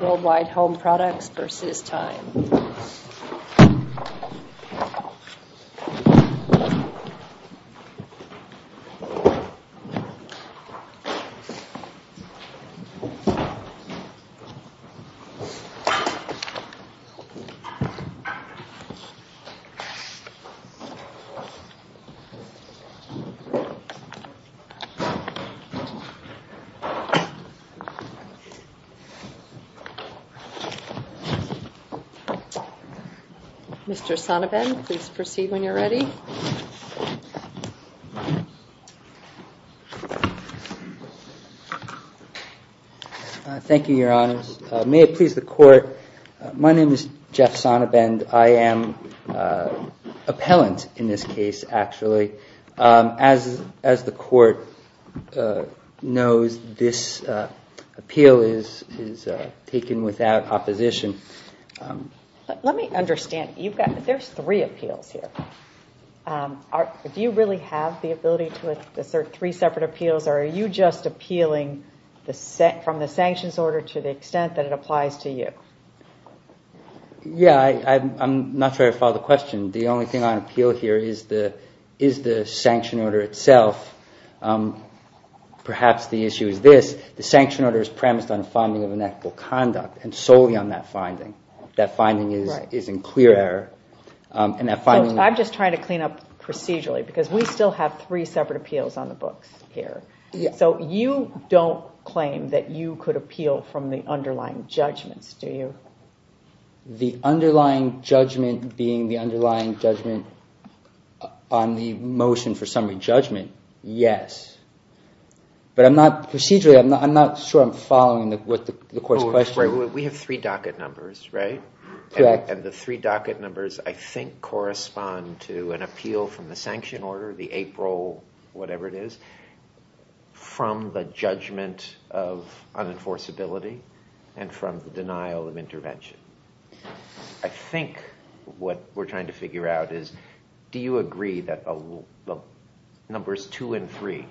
Worldwide Home Products v. Time. Mr. Sonnebend, please proceed when you're ready. Thank you, Your Honors. May it please the Court, my name is Jeff Sonnebend. I am appellant in this case, actually. As the Court knows, this appeal is taken without opposition. Let me understand, there's three appeals here. Do you really have the ability to assert three separate appeals, or are you just appealing from the sanctions order to the extent that it applies to you? Yeah, I'm not sure I follow the question. The only thing on appeal here is the sanction order itself. Perhaps the issue is this, the sanction order is premised on a finding of inactive conduct, and solely on that finding. That finding is in clear error. I'm just trying to clean up procedurally, because we still have three separate appeals on the books here. So you don't claim that you could appeal from the underlying judgments, do you? The underlying judgment being the underlying judgment on the motion for summary judgment, yes. But procedurally, I'm not sure I'm following the Court's question. We have three docket numbers, right? Correct. And the three docket numbers, I think, correspond to an appeal from the sanction order, the April whatever it is, from the judgment of unenforceability, and from the denial of intervention. I think what we're trying to figure out is, do you agree that numbers two and three,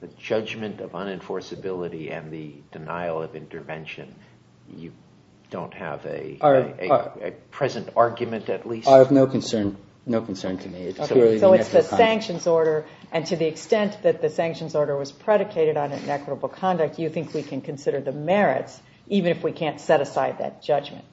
the judgment of unenforceability and the denial of intervention, you don't have a present argument at least? I have no concern. No concern to me. So it's the sanctions order, and to the extent that the sanctions order was predicated on inequitable conduct, you think we can consider the merits, even if we can't set aside that judgment?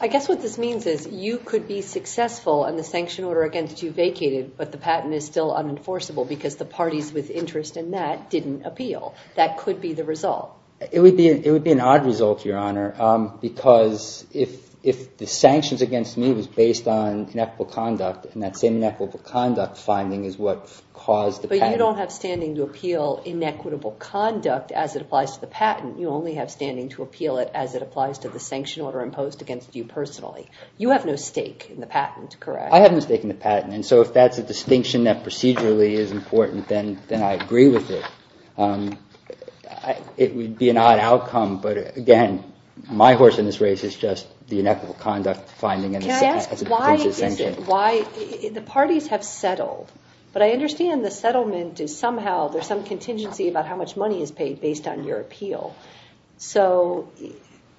I guess what this means is you could be successful, and the sanction order against you vacated, but the patent is still unenforceable because the parties with interest in that didn't appeal. That could be the result. It would be an odd result, Your Honor, because if the sanctions against me was based on inequitable conduct, and that same inequitable conduct finding is what caused the patent. But you don't have standing to appeal inequitable conduct as it applies to the patent. You only have standing to appeal it as it applies to the sanction order imposed against you personally. You have no stake in the patent, correct? I have no stake in the patent, and so if that's a distinction that procedurally is important, then I agree with it. It would be an odd outcome, but again, my horse in this race is just the inequitable conduct finding. Can I ask why the parties have settled? But I understand the settlement is somehow, there's some contingency about how much money is paid based on your appeal. So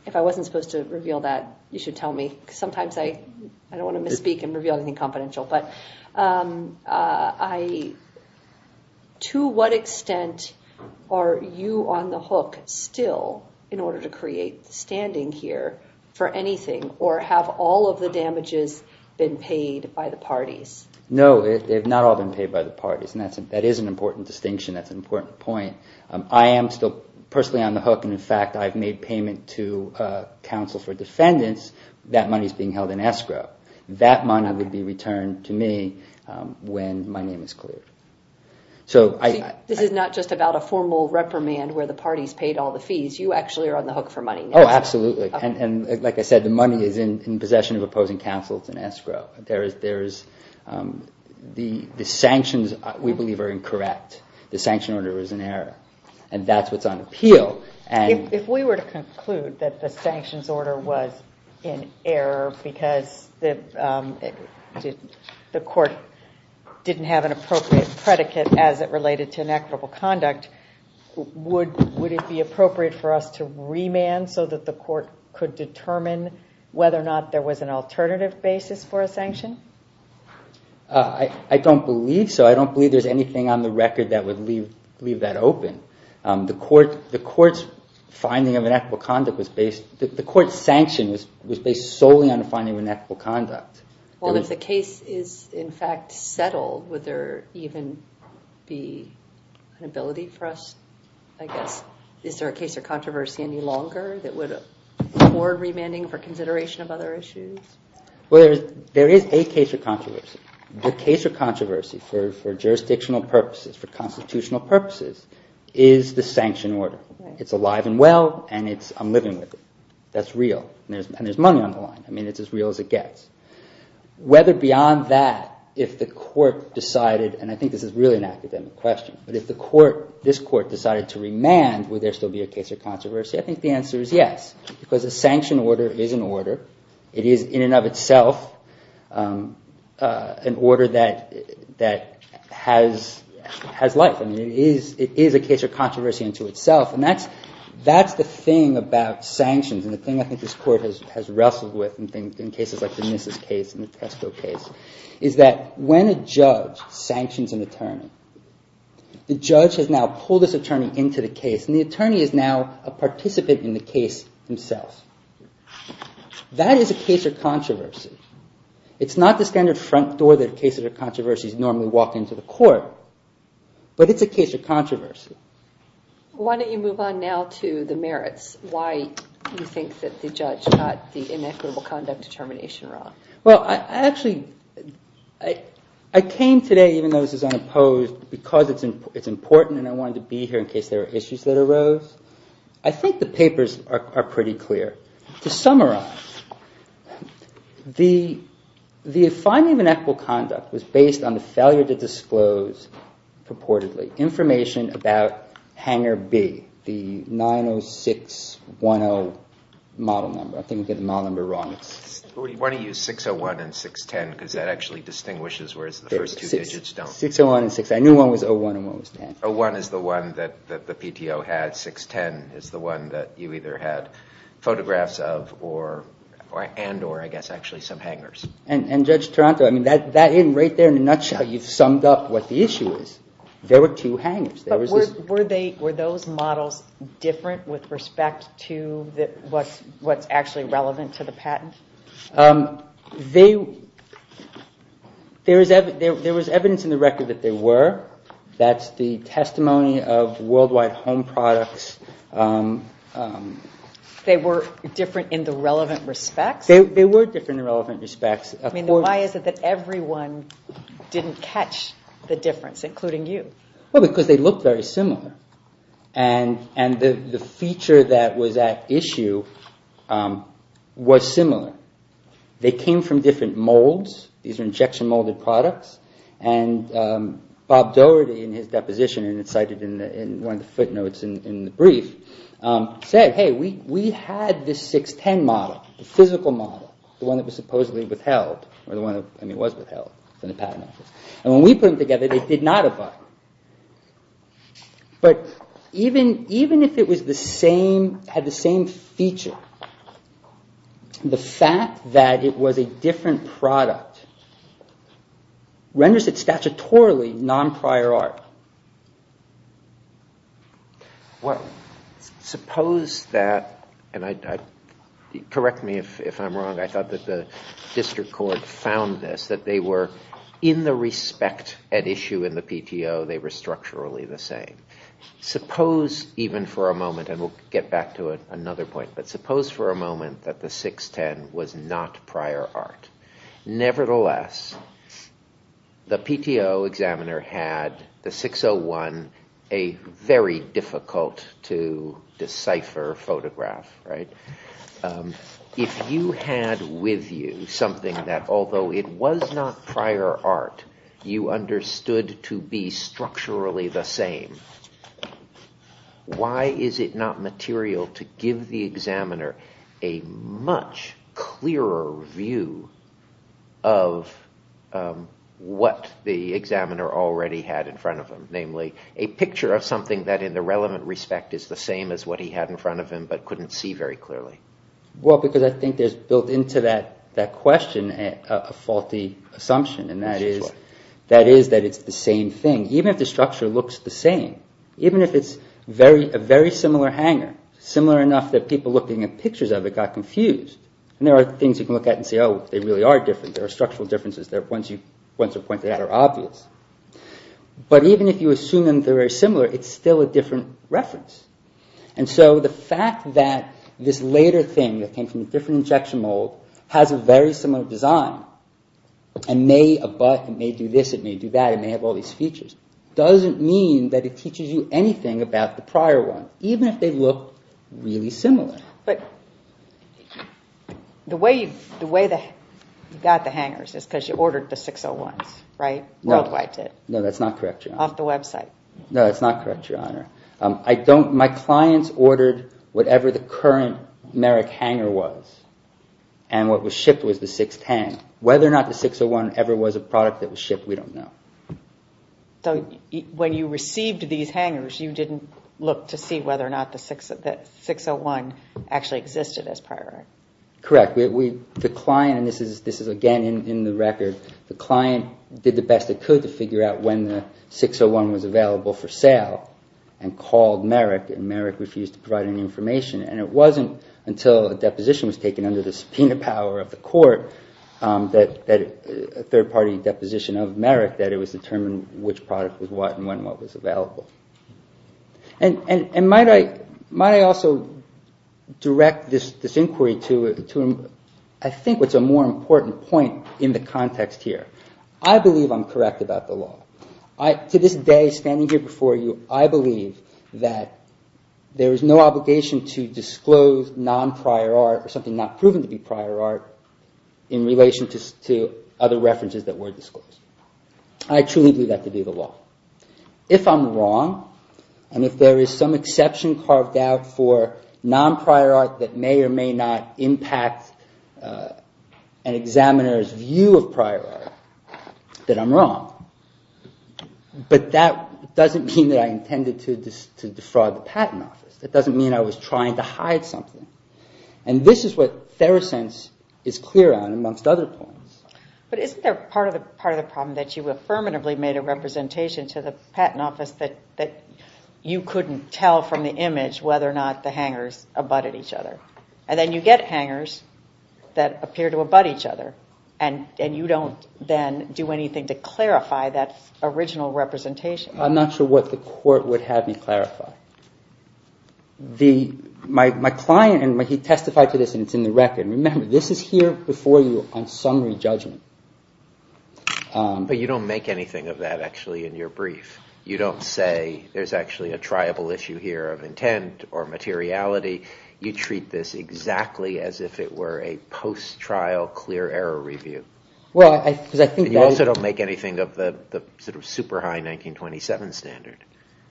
if I wasn't supposed to reveal that, you should tell me, because sometimes I don't want to misspeak and reveal anything confidential. But to what extent are you on the hook still in order to create standing here for anything, or have all of the damages been paid by the parties? No, they've not all been paid by the parties, and that is an important distinction. That's an important point. I am still personally on the hook, and in fact, I've made payment to counsel for defendants. That money's being held in escrow. That money would be returned to me when my name is cleared. This is not just about a formal reprimand where the parties paid all the fees. You actually are on the hook for money now. Oh, absolutely, and like I said, the money is in possession of opposing counsels in escrow. The sanctions, we believe, are incorrect. The sanction order is an error, and that's what's on appeal. If we were to conclude that the sanctions order was in error because the court didn't have an appropriate predicate as it related to inequitable conduct, would it be appropriate for us to remand so that the court could determine whether or not there was an alternative basis for a sanction? I don't believe so. I don't believe there's anything on the record that would leave that open. The court's finding of inequitable conduct was based The court's sanction was based solely on the finding of inequitable conduct. Well, if the case is, in fact, settled, would there even be an ability for us, I guess? Is there a case or controversy any longer that would afford remanding for consideration of other issues? Well, there is a case or controversy. The case or controversy for jurisdictional purposes, for constitutional purposes, is the sanction order. It's alive and well, and I'm living with it. That's real, and there's money on the line. I mean, it's as real as it gets. Whether beyond that, if the court decided, and I think this is really an academic question, but if this court decided to remand, would there still be a case or controversy? I think the answer is yes, because a sanction order is an order. It is, in and of itself, an order that has life. I mean, it is a case or controversy into itself, and that's the thing about sanctions, and the thing I think this court has wrestled with in cases like the Nissus case and the Tesco case, is that when a judge sanctions an attorney, the judge has now pulled this attorney into the case, and the attorney is now a participant in the case himself. That is a case or controversy. It's not the standard front door that a case or controversy normally walks into the court, but it's a case or controversy. Why don't you move on now to the merits? Why do you think that the judge got the inequitable conduct determination wrong? Well, actually, I came today, even though this is unopposed, because it's important, and I wanted to be here in case there were issues that arose. I think the papers are pretty clear. To summarize, the finding of inequitable conduct was based on the failure to disclose purportedly information about hangar B, the 90610 model number. I think we got the model number wrong. We want to use 601 and 610 because that actually distinguishes, whereas the first two digits don't. 601 and 610. I knew one was 01 and one was 10. 01 is the one that the PTO had. 610 is the one that you either had photographs of and or, I guess, actually some hangars. And Judge Taranto, that in right there, in a nutshell, you've summed up what the issue is. There were two hangars. Were those models different with respect to what's actually relevant to the patent? There was evidence in the record that there were. That's the testimony of worldwide home products. They were different in the relevant respects? They were different in relevant respects. Why is it that everyone didn't catch the difference, including you? Well, because they looked very similar. And the feature that was at issue was similar. They came from different molds. These are injection molded products. And Bob Doherty, in his deposition, and it's cited in one of the footnotes in the brief, said, hey, we had this 610 model, the physical model, the one that was supposedly withheld. I mean, it was withheld from the patent office. And when we put them together, they did not apply. But even if it had the same feature, the fact that it was a different product renders it statutorily non-prior art. Well, suppose that, and correct me if I'm wrong, I thought that the district court found this, that they were, in the respect at issue in the PTO, they were structurally the same. Suppose even for a moment, and we'll get back to another point, but suppose for a moment that the 610 was not prior art. Nevertheless, the PTO examiner had the 601, a very difficult to decipher photograph. If you had with you something that, although it was not prior art, you understood to be structurally the same, why is it not material to give the examiner a much clearer view of what the examiner already had in front of him? Namely, a picture of something that in the relevant respect is the same as what he had in front of him, but couldn't see very clearly. Well, because I think there's built into that question a faulty assumption, and that is that it's the same thing. Even if the structure looks the same, even if it's a very similar hanger, similar enough that people looking at pictures of it got confused. And there are things you can look at and say, oh, they really are different. There are structural differences. Once you point to that, they're obvious. But even if you assume they're very similar, it's still a different reference. And so the fact that this later thing that came from a different injection mold has a very similar design, and may do this, it may do that, it may have all these features, doesn't mean that it teaches you anything about the prior one, even if they look really similar. But the way you got the hangers is because you ordered the 601s, right? Worldwide did. No, that's not correct, Your Honor. Off the website. No, that's not correct, Your Honor. My clients ordered whatever the current Merrick hanger was, and what was shipped was the sixth hang. Whether or not the 601 ever was a product that was shipped, we don't know. So when you received these hangers, you didn't look to see whether or not the 601 actually existed as prior? Correct. The client, and this is again in the record, the client did the best it could to figure out when the 601 was available for sale and called Merrick, and Merrick refused to provide any information. And it wasn't until a deposition was taken under the subpoena power of the court, a third-party deposition of Merrick, that it was determined which product was what and when what was available. And might I also direct this inquiry to, I think, what's a more important point in the context here. I believe I'm correct about the law. To this day, standing here before you, I believe that there is no obligation to disclose non-prior art or something not proven to be prior art in relation to other references that were disclosed. I truly believe that to be the law. If I'm wrong, and if there is some exception carved out for non-prior art that may or may not impact an examiner's view of prior art, then I'm wrong. But that doesn't mean that I intended to defraud the patent office. That doesn't mean I was trying to hide something. And this is what Therosense is clear on, amongst other points. But isn't there part of the problem that you affirmatively made a representation to the patent office that you couldn't tell from the image whether or not the hangers abutted each other? And then you get hangers that appear to abutt each other, and you don't then do anything to clarify that original representation. I'm not sure what the court would have me clarify. My client testified to this, and it's in the record. Remember, this is here before you on summary judgment. But you don't make anything of that, actually, in your brief. You don't say there's actually a triable issue here of intent or materiality. You treat this exactly as if it were a post-trial clear error review. And you also don't make anything of the sort of super high 1927 standard.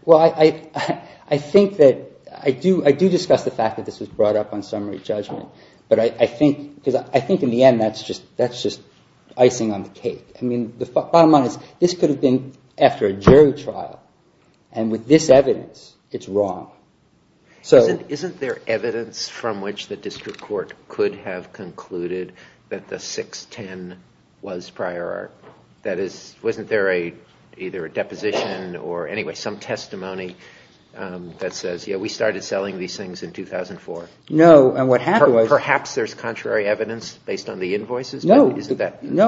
Well, I think that I do discuss the fact that this was brought up on summary judgment. But I think in the end that's just icing on the cake. I mean, the bottom line is this could have been after a jury trial. And with this evidence, it's wrong. Isn't there evidence from which the district court could have concluded that the 610 was prior art? Wasn't there either a deposition or anyway some testimony that says, yeah, we started selling these things in 2004? No, and what happened was- Perhaps there's contrary evidence based on the invoices? No,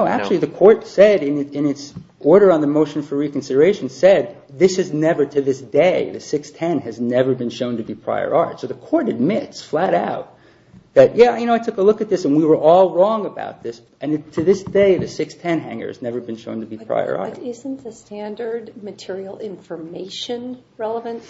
actually the court said in its order on the motion for reconsideration said, this is never to this day, the 610 has never been shown to be prior art. So the court admits flat out that, yeah, I took a look at this, and we were all wrong about this. And to this day, the 610 hanger has never been shown to be prior art. But isn't the standard material information relevant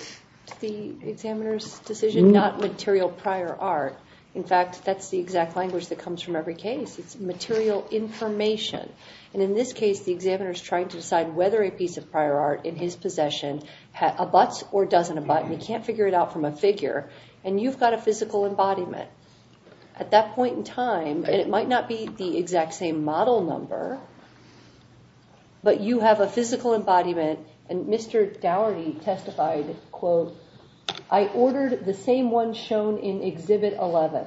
to the examiner's decision? Not material prior art. In fact, that's the exact language that comes from every case. It's material information. And in this case, the examiner is trying to decide whether a piece of prior art in his possession abuts or doesn't abut, and he can't figure it out from a figure. And you've got a physical embodiment. At that point in time, and it might not be the exact same model number, but you have a physical embodiment, and Mr. Dougherty testified, quote, I ordered the same one shown in Exhibit 11.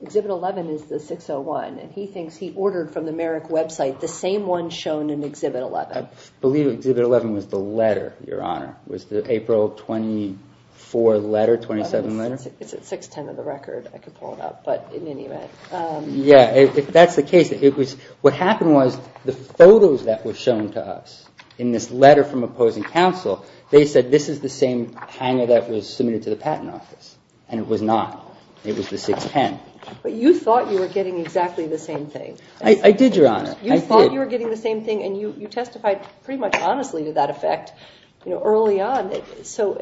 Exhibit 11 is the 601, and he thinks he ordered from the Merrick website the same one shown in Exhibit 11. I believe Exhibit 11 was the letter, Your Honor. Was the April 24 letter, 27 letter? It's at 610 on the record. I could pull it up, but in any event. Yeah, if that's the case, what happened was the photos that were shown to us in this letter from opposing counsel, they said this is the same hanger that was submitted to the Patent Office, and it was not. It was the 610. But you thought you were getting exactly the same thing. I did, Your Honor. I did. You thought you were getting the same thing, and you testified pretty much honestly to that effect early on. So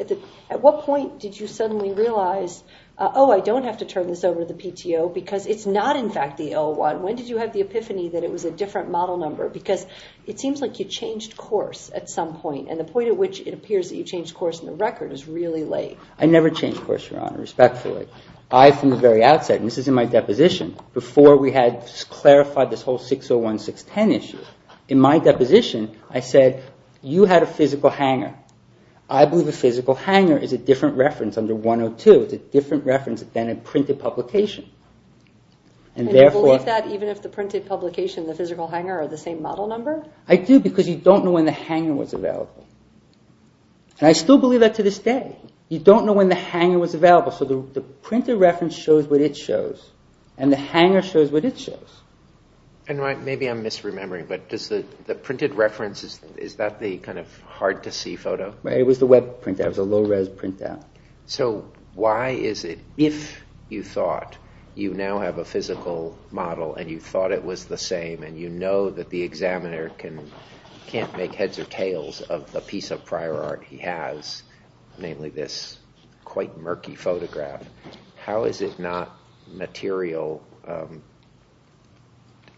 at what point did you suddenly realize, oh, I don't have to turn this over to the PTO because it's not, in fact, the 01. When did you have the epiphany that it was a different model number? Because it seems like you changed course at some point, and the point at which it appears that you changed course on the record is really late. I never changed course, Your Honor, respectfully. I, from the very outset, and this is in my deposition, before we had clarified this whole 601, 610 issue, in my deposition, I said you had a physical hanger. I believe a physical hanger is a different reference under 102. It's a different reference than a printed publication. And you believe that even if the printed publication and the physical hanger are the same model number? I do, because you don't know when the hanger was available. And I still believe that to this day. You don't know when the hanger was available, so the printed reference shows what it shows, and the hanger shows what it shows. And maybe I'm misremembering, but does the printed reference, is that the kind of hard-to-see photo? It was the web printout. It was a low-res printout. So why is it, if you thought you now have a physical model, and you thought it was the same, and you know that the examiner can't make heads or tails of the piece of prior art he has, namely this quite murky photograph, how is it not material?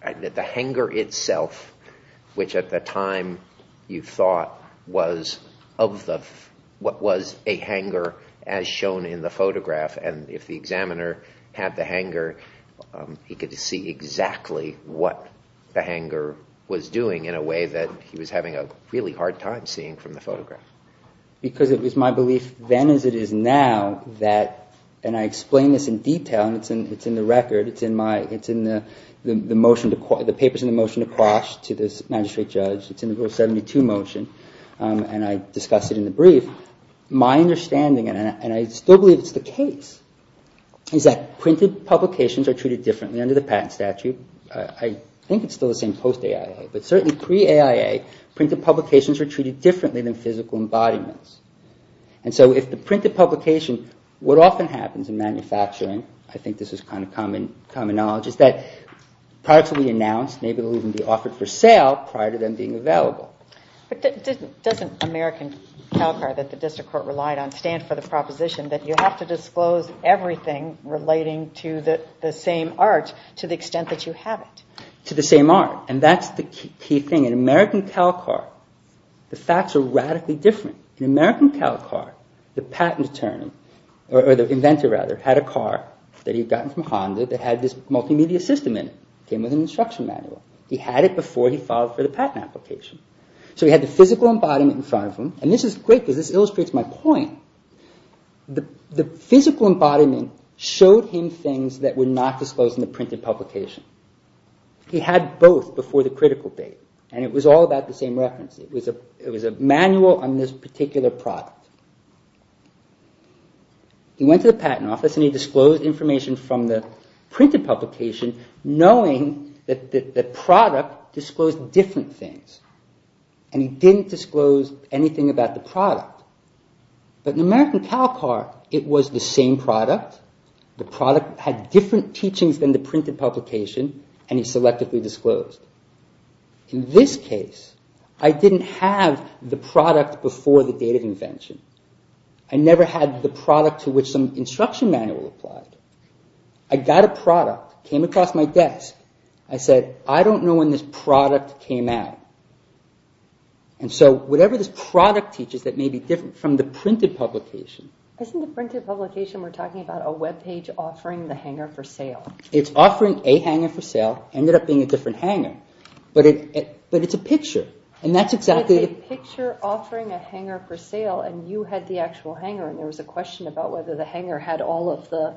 The hanger itself, which at the time you thought was a hanger as shown in the photograph, and if the examiner had the hanger, he could see exactly what the hanger was doing in a way that he was having a really hard time seeing from the photograph. Because it was my belief then as it is now, and I explain this in detail, and it's in the record, it's in the papers in the motion to quash to this magistrate judge, it's in the rule 72 motion, and I discuss it in the brief. My understanding, and I still believe it's the case, is that printed publications are treated differently under the patent statute. I think it's still the same post-AIA, but certainly pre-AIA, printed publications are treated differently than physical embodiments. And so if the printed publication, what often happens in manufacturing, I think this is common knowledge, is that products will be announced, maybe they'll even be offered for sale prior to them being available. But doesn't American Calcar that the district court relied on stand for the proposition that you have to disclose everything relating to the same art to the extent that you have it? To the same art, and that's the key thing. In American Calcar, the facts are radically different. In American Calcar, the patent attorney, or the inventor rather, had a car that he'd gotten from Honda that had this multimedia system in it. It came with an instruction manual. He had it before he filed for the patent application. So he had the physical embodiment in front of him, and this is great because this illustrates my point. The physical embodiment showed him things that were not disclosed in the printed publication. He had both before the critical date, and it was all about the same reference. It was a manual on this particular product. He went to the patent office, and he disclosed information from the printed publication knowing that the product disclosed different things. And he didn't disclose anything about the product. But in American Calcar, it was the same product. The product had different teachings than the printed publication, and he selectively disclosed. I never had the product to which some instruction manual applied. I got a product, came across my desk. I said, I don't know when this product came out. And so whatever this product teaches that may be different from the printed publication... Isn't the printed publication we're talking about a web page offering the hangar for sale? It's offering a hangar for sale. Ended up being a different hangar. But it's a picture, and that's exactly... It's a picture offering a hangar for sale, and you had the actual hangar, and there was a question about whether the hangar had all of the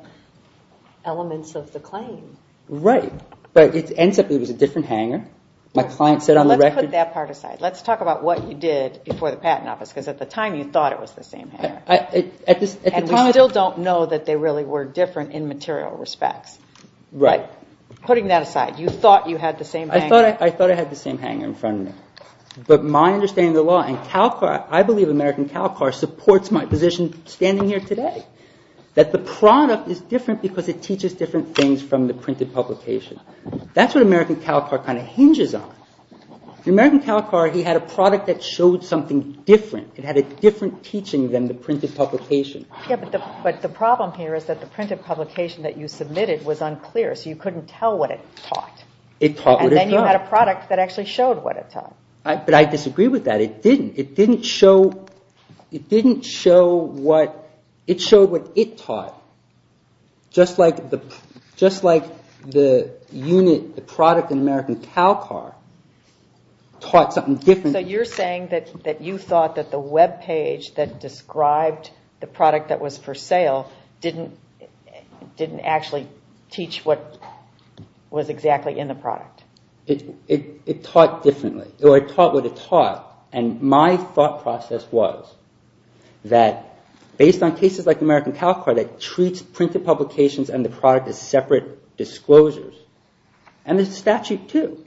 elements of the claim. Right, but it ends up it was a different hangar. My client said on the record... Let's put that part aside. Let's talk about what you did before the patent office, because at the time you thought it was the same hangar. And we still don't know that they really were different in material respects. Right. Putting that aside, you thought you had the same hangar. I thought I had the same hangar in front of me. But my understanding of the law, and Calcar... I believe American Calcar supports my position standing here today, that the product is different because it teaches different things from the printed publication. That's what American Calcar kind of hinges on. In American Calcar, he had a product that showed something different. It had a different teaching than the printed publication. Yeah, but the problem here is that the printed publication that you submitted was unclear, so you couldn't tell what it taught. It taught what it taught. It had a product that actually showed what it taught. But I disagree with that. It didn't. It didn't show what it taught, just like the product in American Calcar taught something different. So you're saying that you thought that the webpage that described the product that was for sale didn't actually teach what was exactly in the product. It taught differently, or it taught what it taught. And my thought process was that, based on cases like American Calcar that treats printed publications and the product as separate disclosures, and the statute too.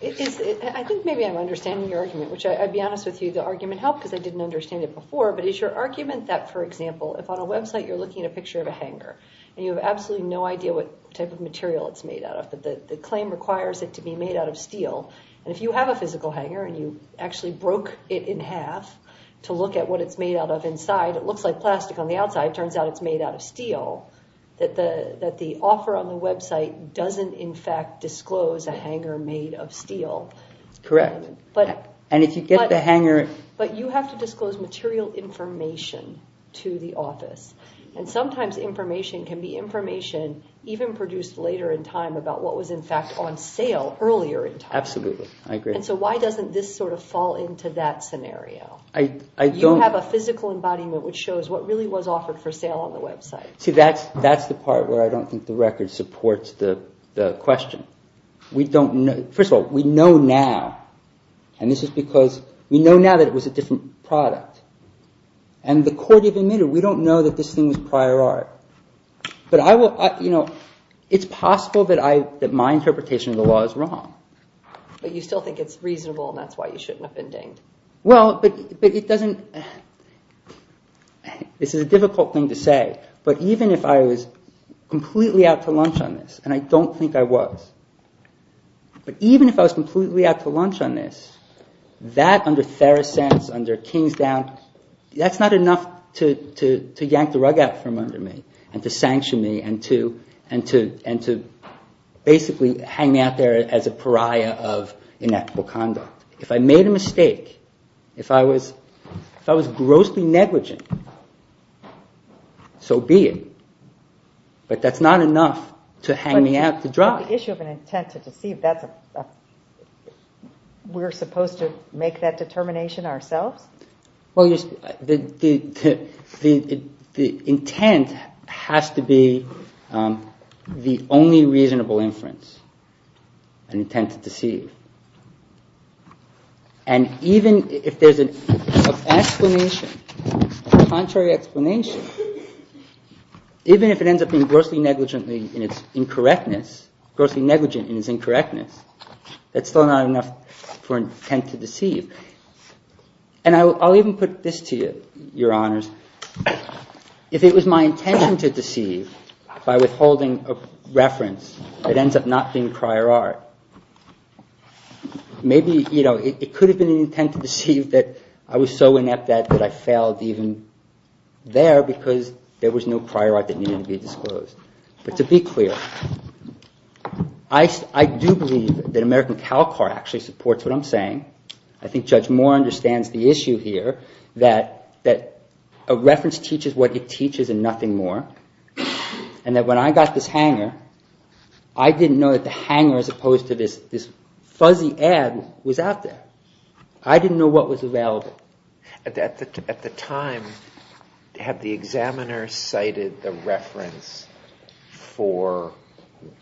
I think maybe I'm understanding your argument, which I'd be honest with you, the argument helped because I didn't understand it before. But is your argument that, for example, if on a website you're looking at a picture of a hangar and you have absolutely no idea what type of material it's made out of, but the claim requires it to be made out of steel, and if you have a physical hangar and you actually broke it in half to look at what it's made out of inside, it looks like plastic on the outside. It turns out it's made out of steel. That the offer on the website doesn't in fact disclose a hangar made of steel. Correct. And if you get the hangar... But you have to disclose material information to the office. And sometimes information can be information even produced later in time about what was in fact on sale earlier in time. Absolutely. I agree. And so why doesn't this sort of fall into that scenario? I don't... You have a physical embodiment which shows what really was offered for sale on the website. See, that's the part where I don't think the record supports the question. We don't know... First of all, we know now, and this is because we know now that it was a different product. And the court even admitted, we don't know that this thing was prior art. But I will... It's possible that my interpretation of the law is wrong. But you still think it's reasonable and that's why you shouldn't have been dinged. Well, but it doesn't... This is a difficult thing to say, but even if I was completely out to lunch on this, and I don't think I was, but even if I was completely out to lunch on this, that under Theracense, under Kingsdown, that's not enough to yank the rug out from under me and to sanction me and to basically hang me out there as a pariah of inequitable conduct. If I made a mistake, if I was grossly negligent, so be it. But that's not enough to hang me out to dry. But the issue of an intent to deceive, we're supposed to make that determination ourselves? Well, the intent has to be the only reasonable inference, an intent to deceive. And even if there's an explanation, a contrary explanation, even if it ends up being grossly negligent in its incorrectness, grossly negligent in its incorrectness, that's still not enough for an intent to deceive. And I'll even put this to you, Your Honors. If it was my intention to deceive by withholding a reference that ends up not being prior art, maybe it could have been an intent to deceive that I was so inept that I failed even there because there was no prior art that needed to be disclosed. But to be clear, I do believe that American Calcutta actually supports what I'm saying. I think Judge Moore understands the issue here that a reference teaches what it teaches and nothing more. And that when I got this hanger, I didn't know that the hanger as opposed to this fuzzy ad was out there. I didn't know what was available. At the time, had the examiner cited the reference for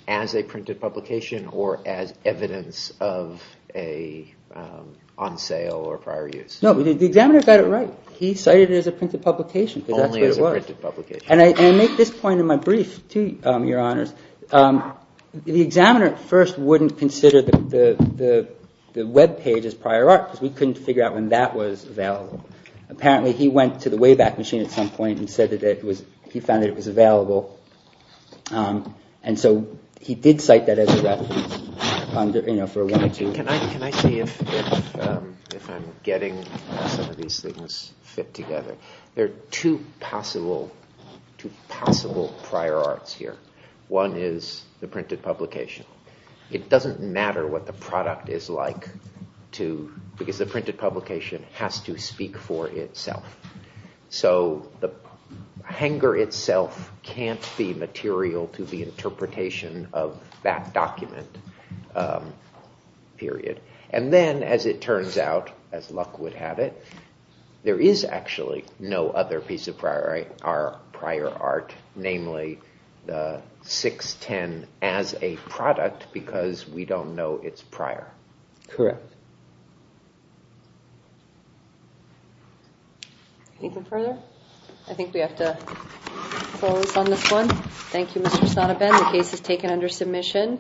as a printed publication or as evidence of a on sale or prior use? No, the examiner got it right. He cited it as a printed publication because that's what it was. Only as a printed publication. And I make this point in my brief to you, Your Honors. The examiner at first wouldn't consider the web page as prior art because we couldn't figure out when that was available. Apparently, he went to the Wayback Machine at some point and said that he found that it was available. And so he did cite that as a reference. Can I see if I'm getting some of these things fit together? There are two possible prior arts here. One is the printed publication. It doesn't matter what the product is like because the printed publication has to speak for itself. So the hanger itself can't be material to the interpretation of that document, period. And then, as it turns out, as luck would have it, there is actually no other piece of prior art, namely the 610 as a product because we don't know its prior. Correct. Anything further? I think we have to close on this one. Thank you, Mr. Sotoben. The case is taken under submission.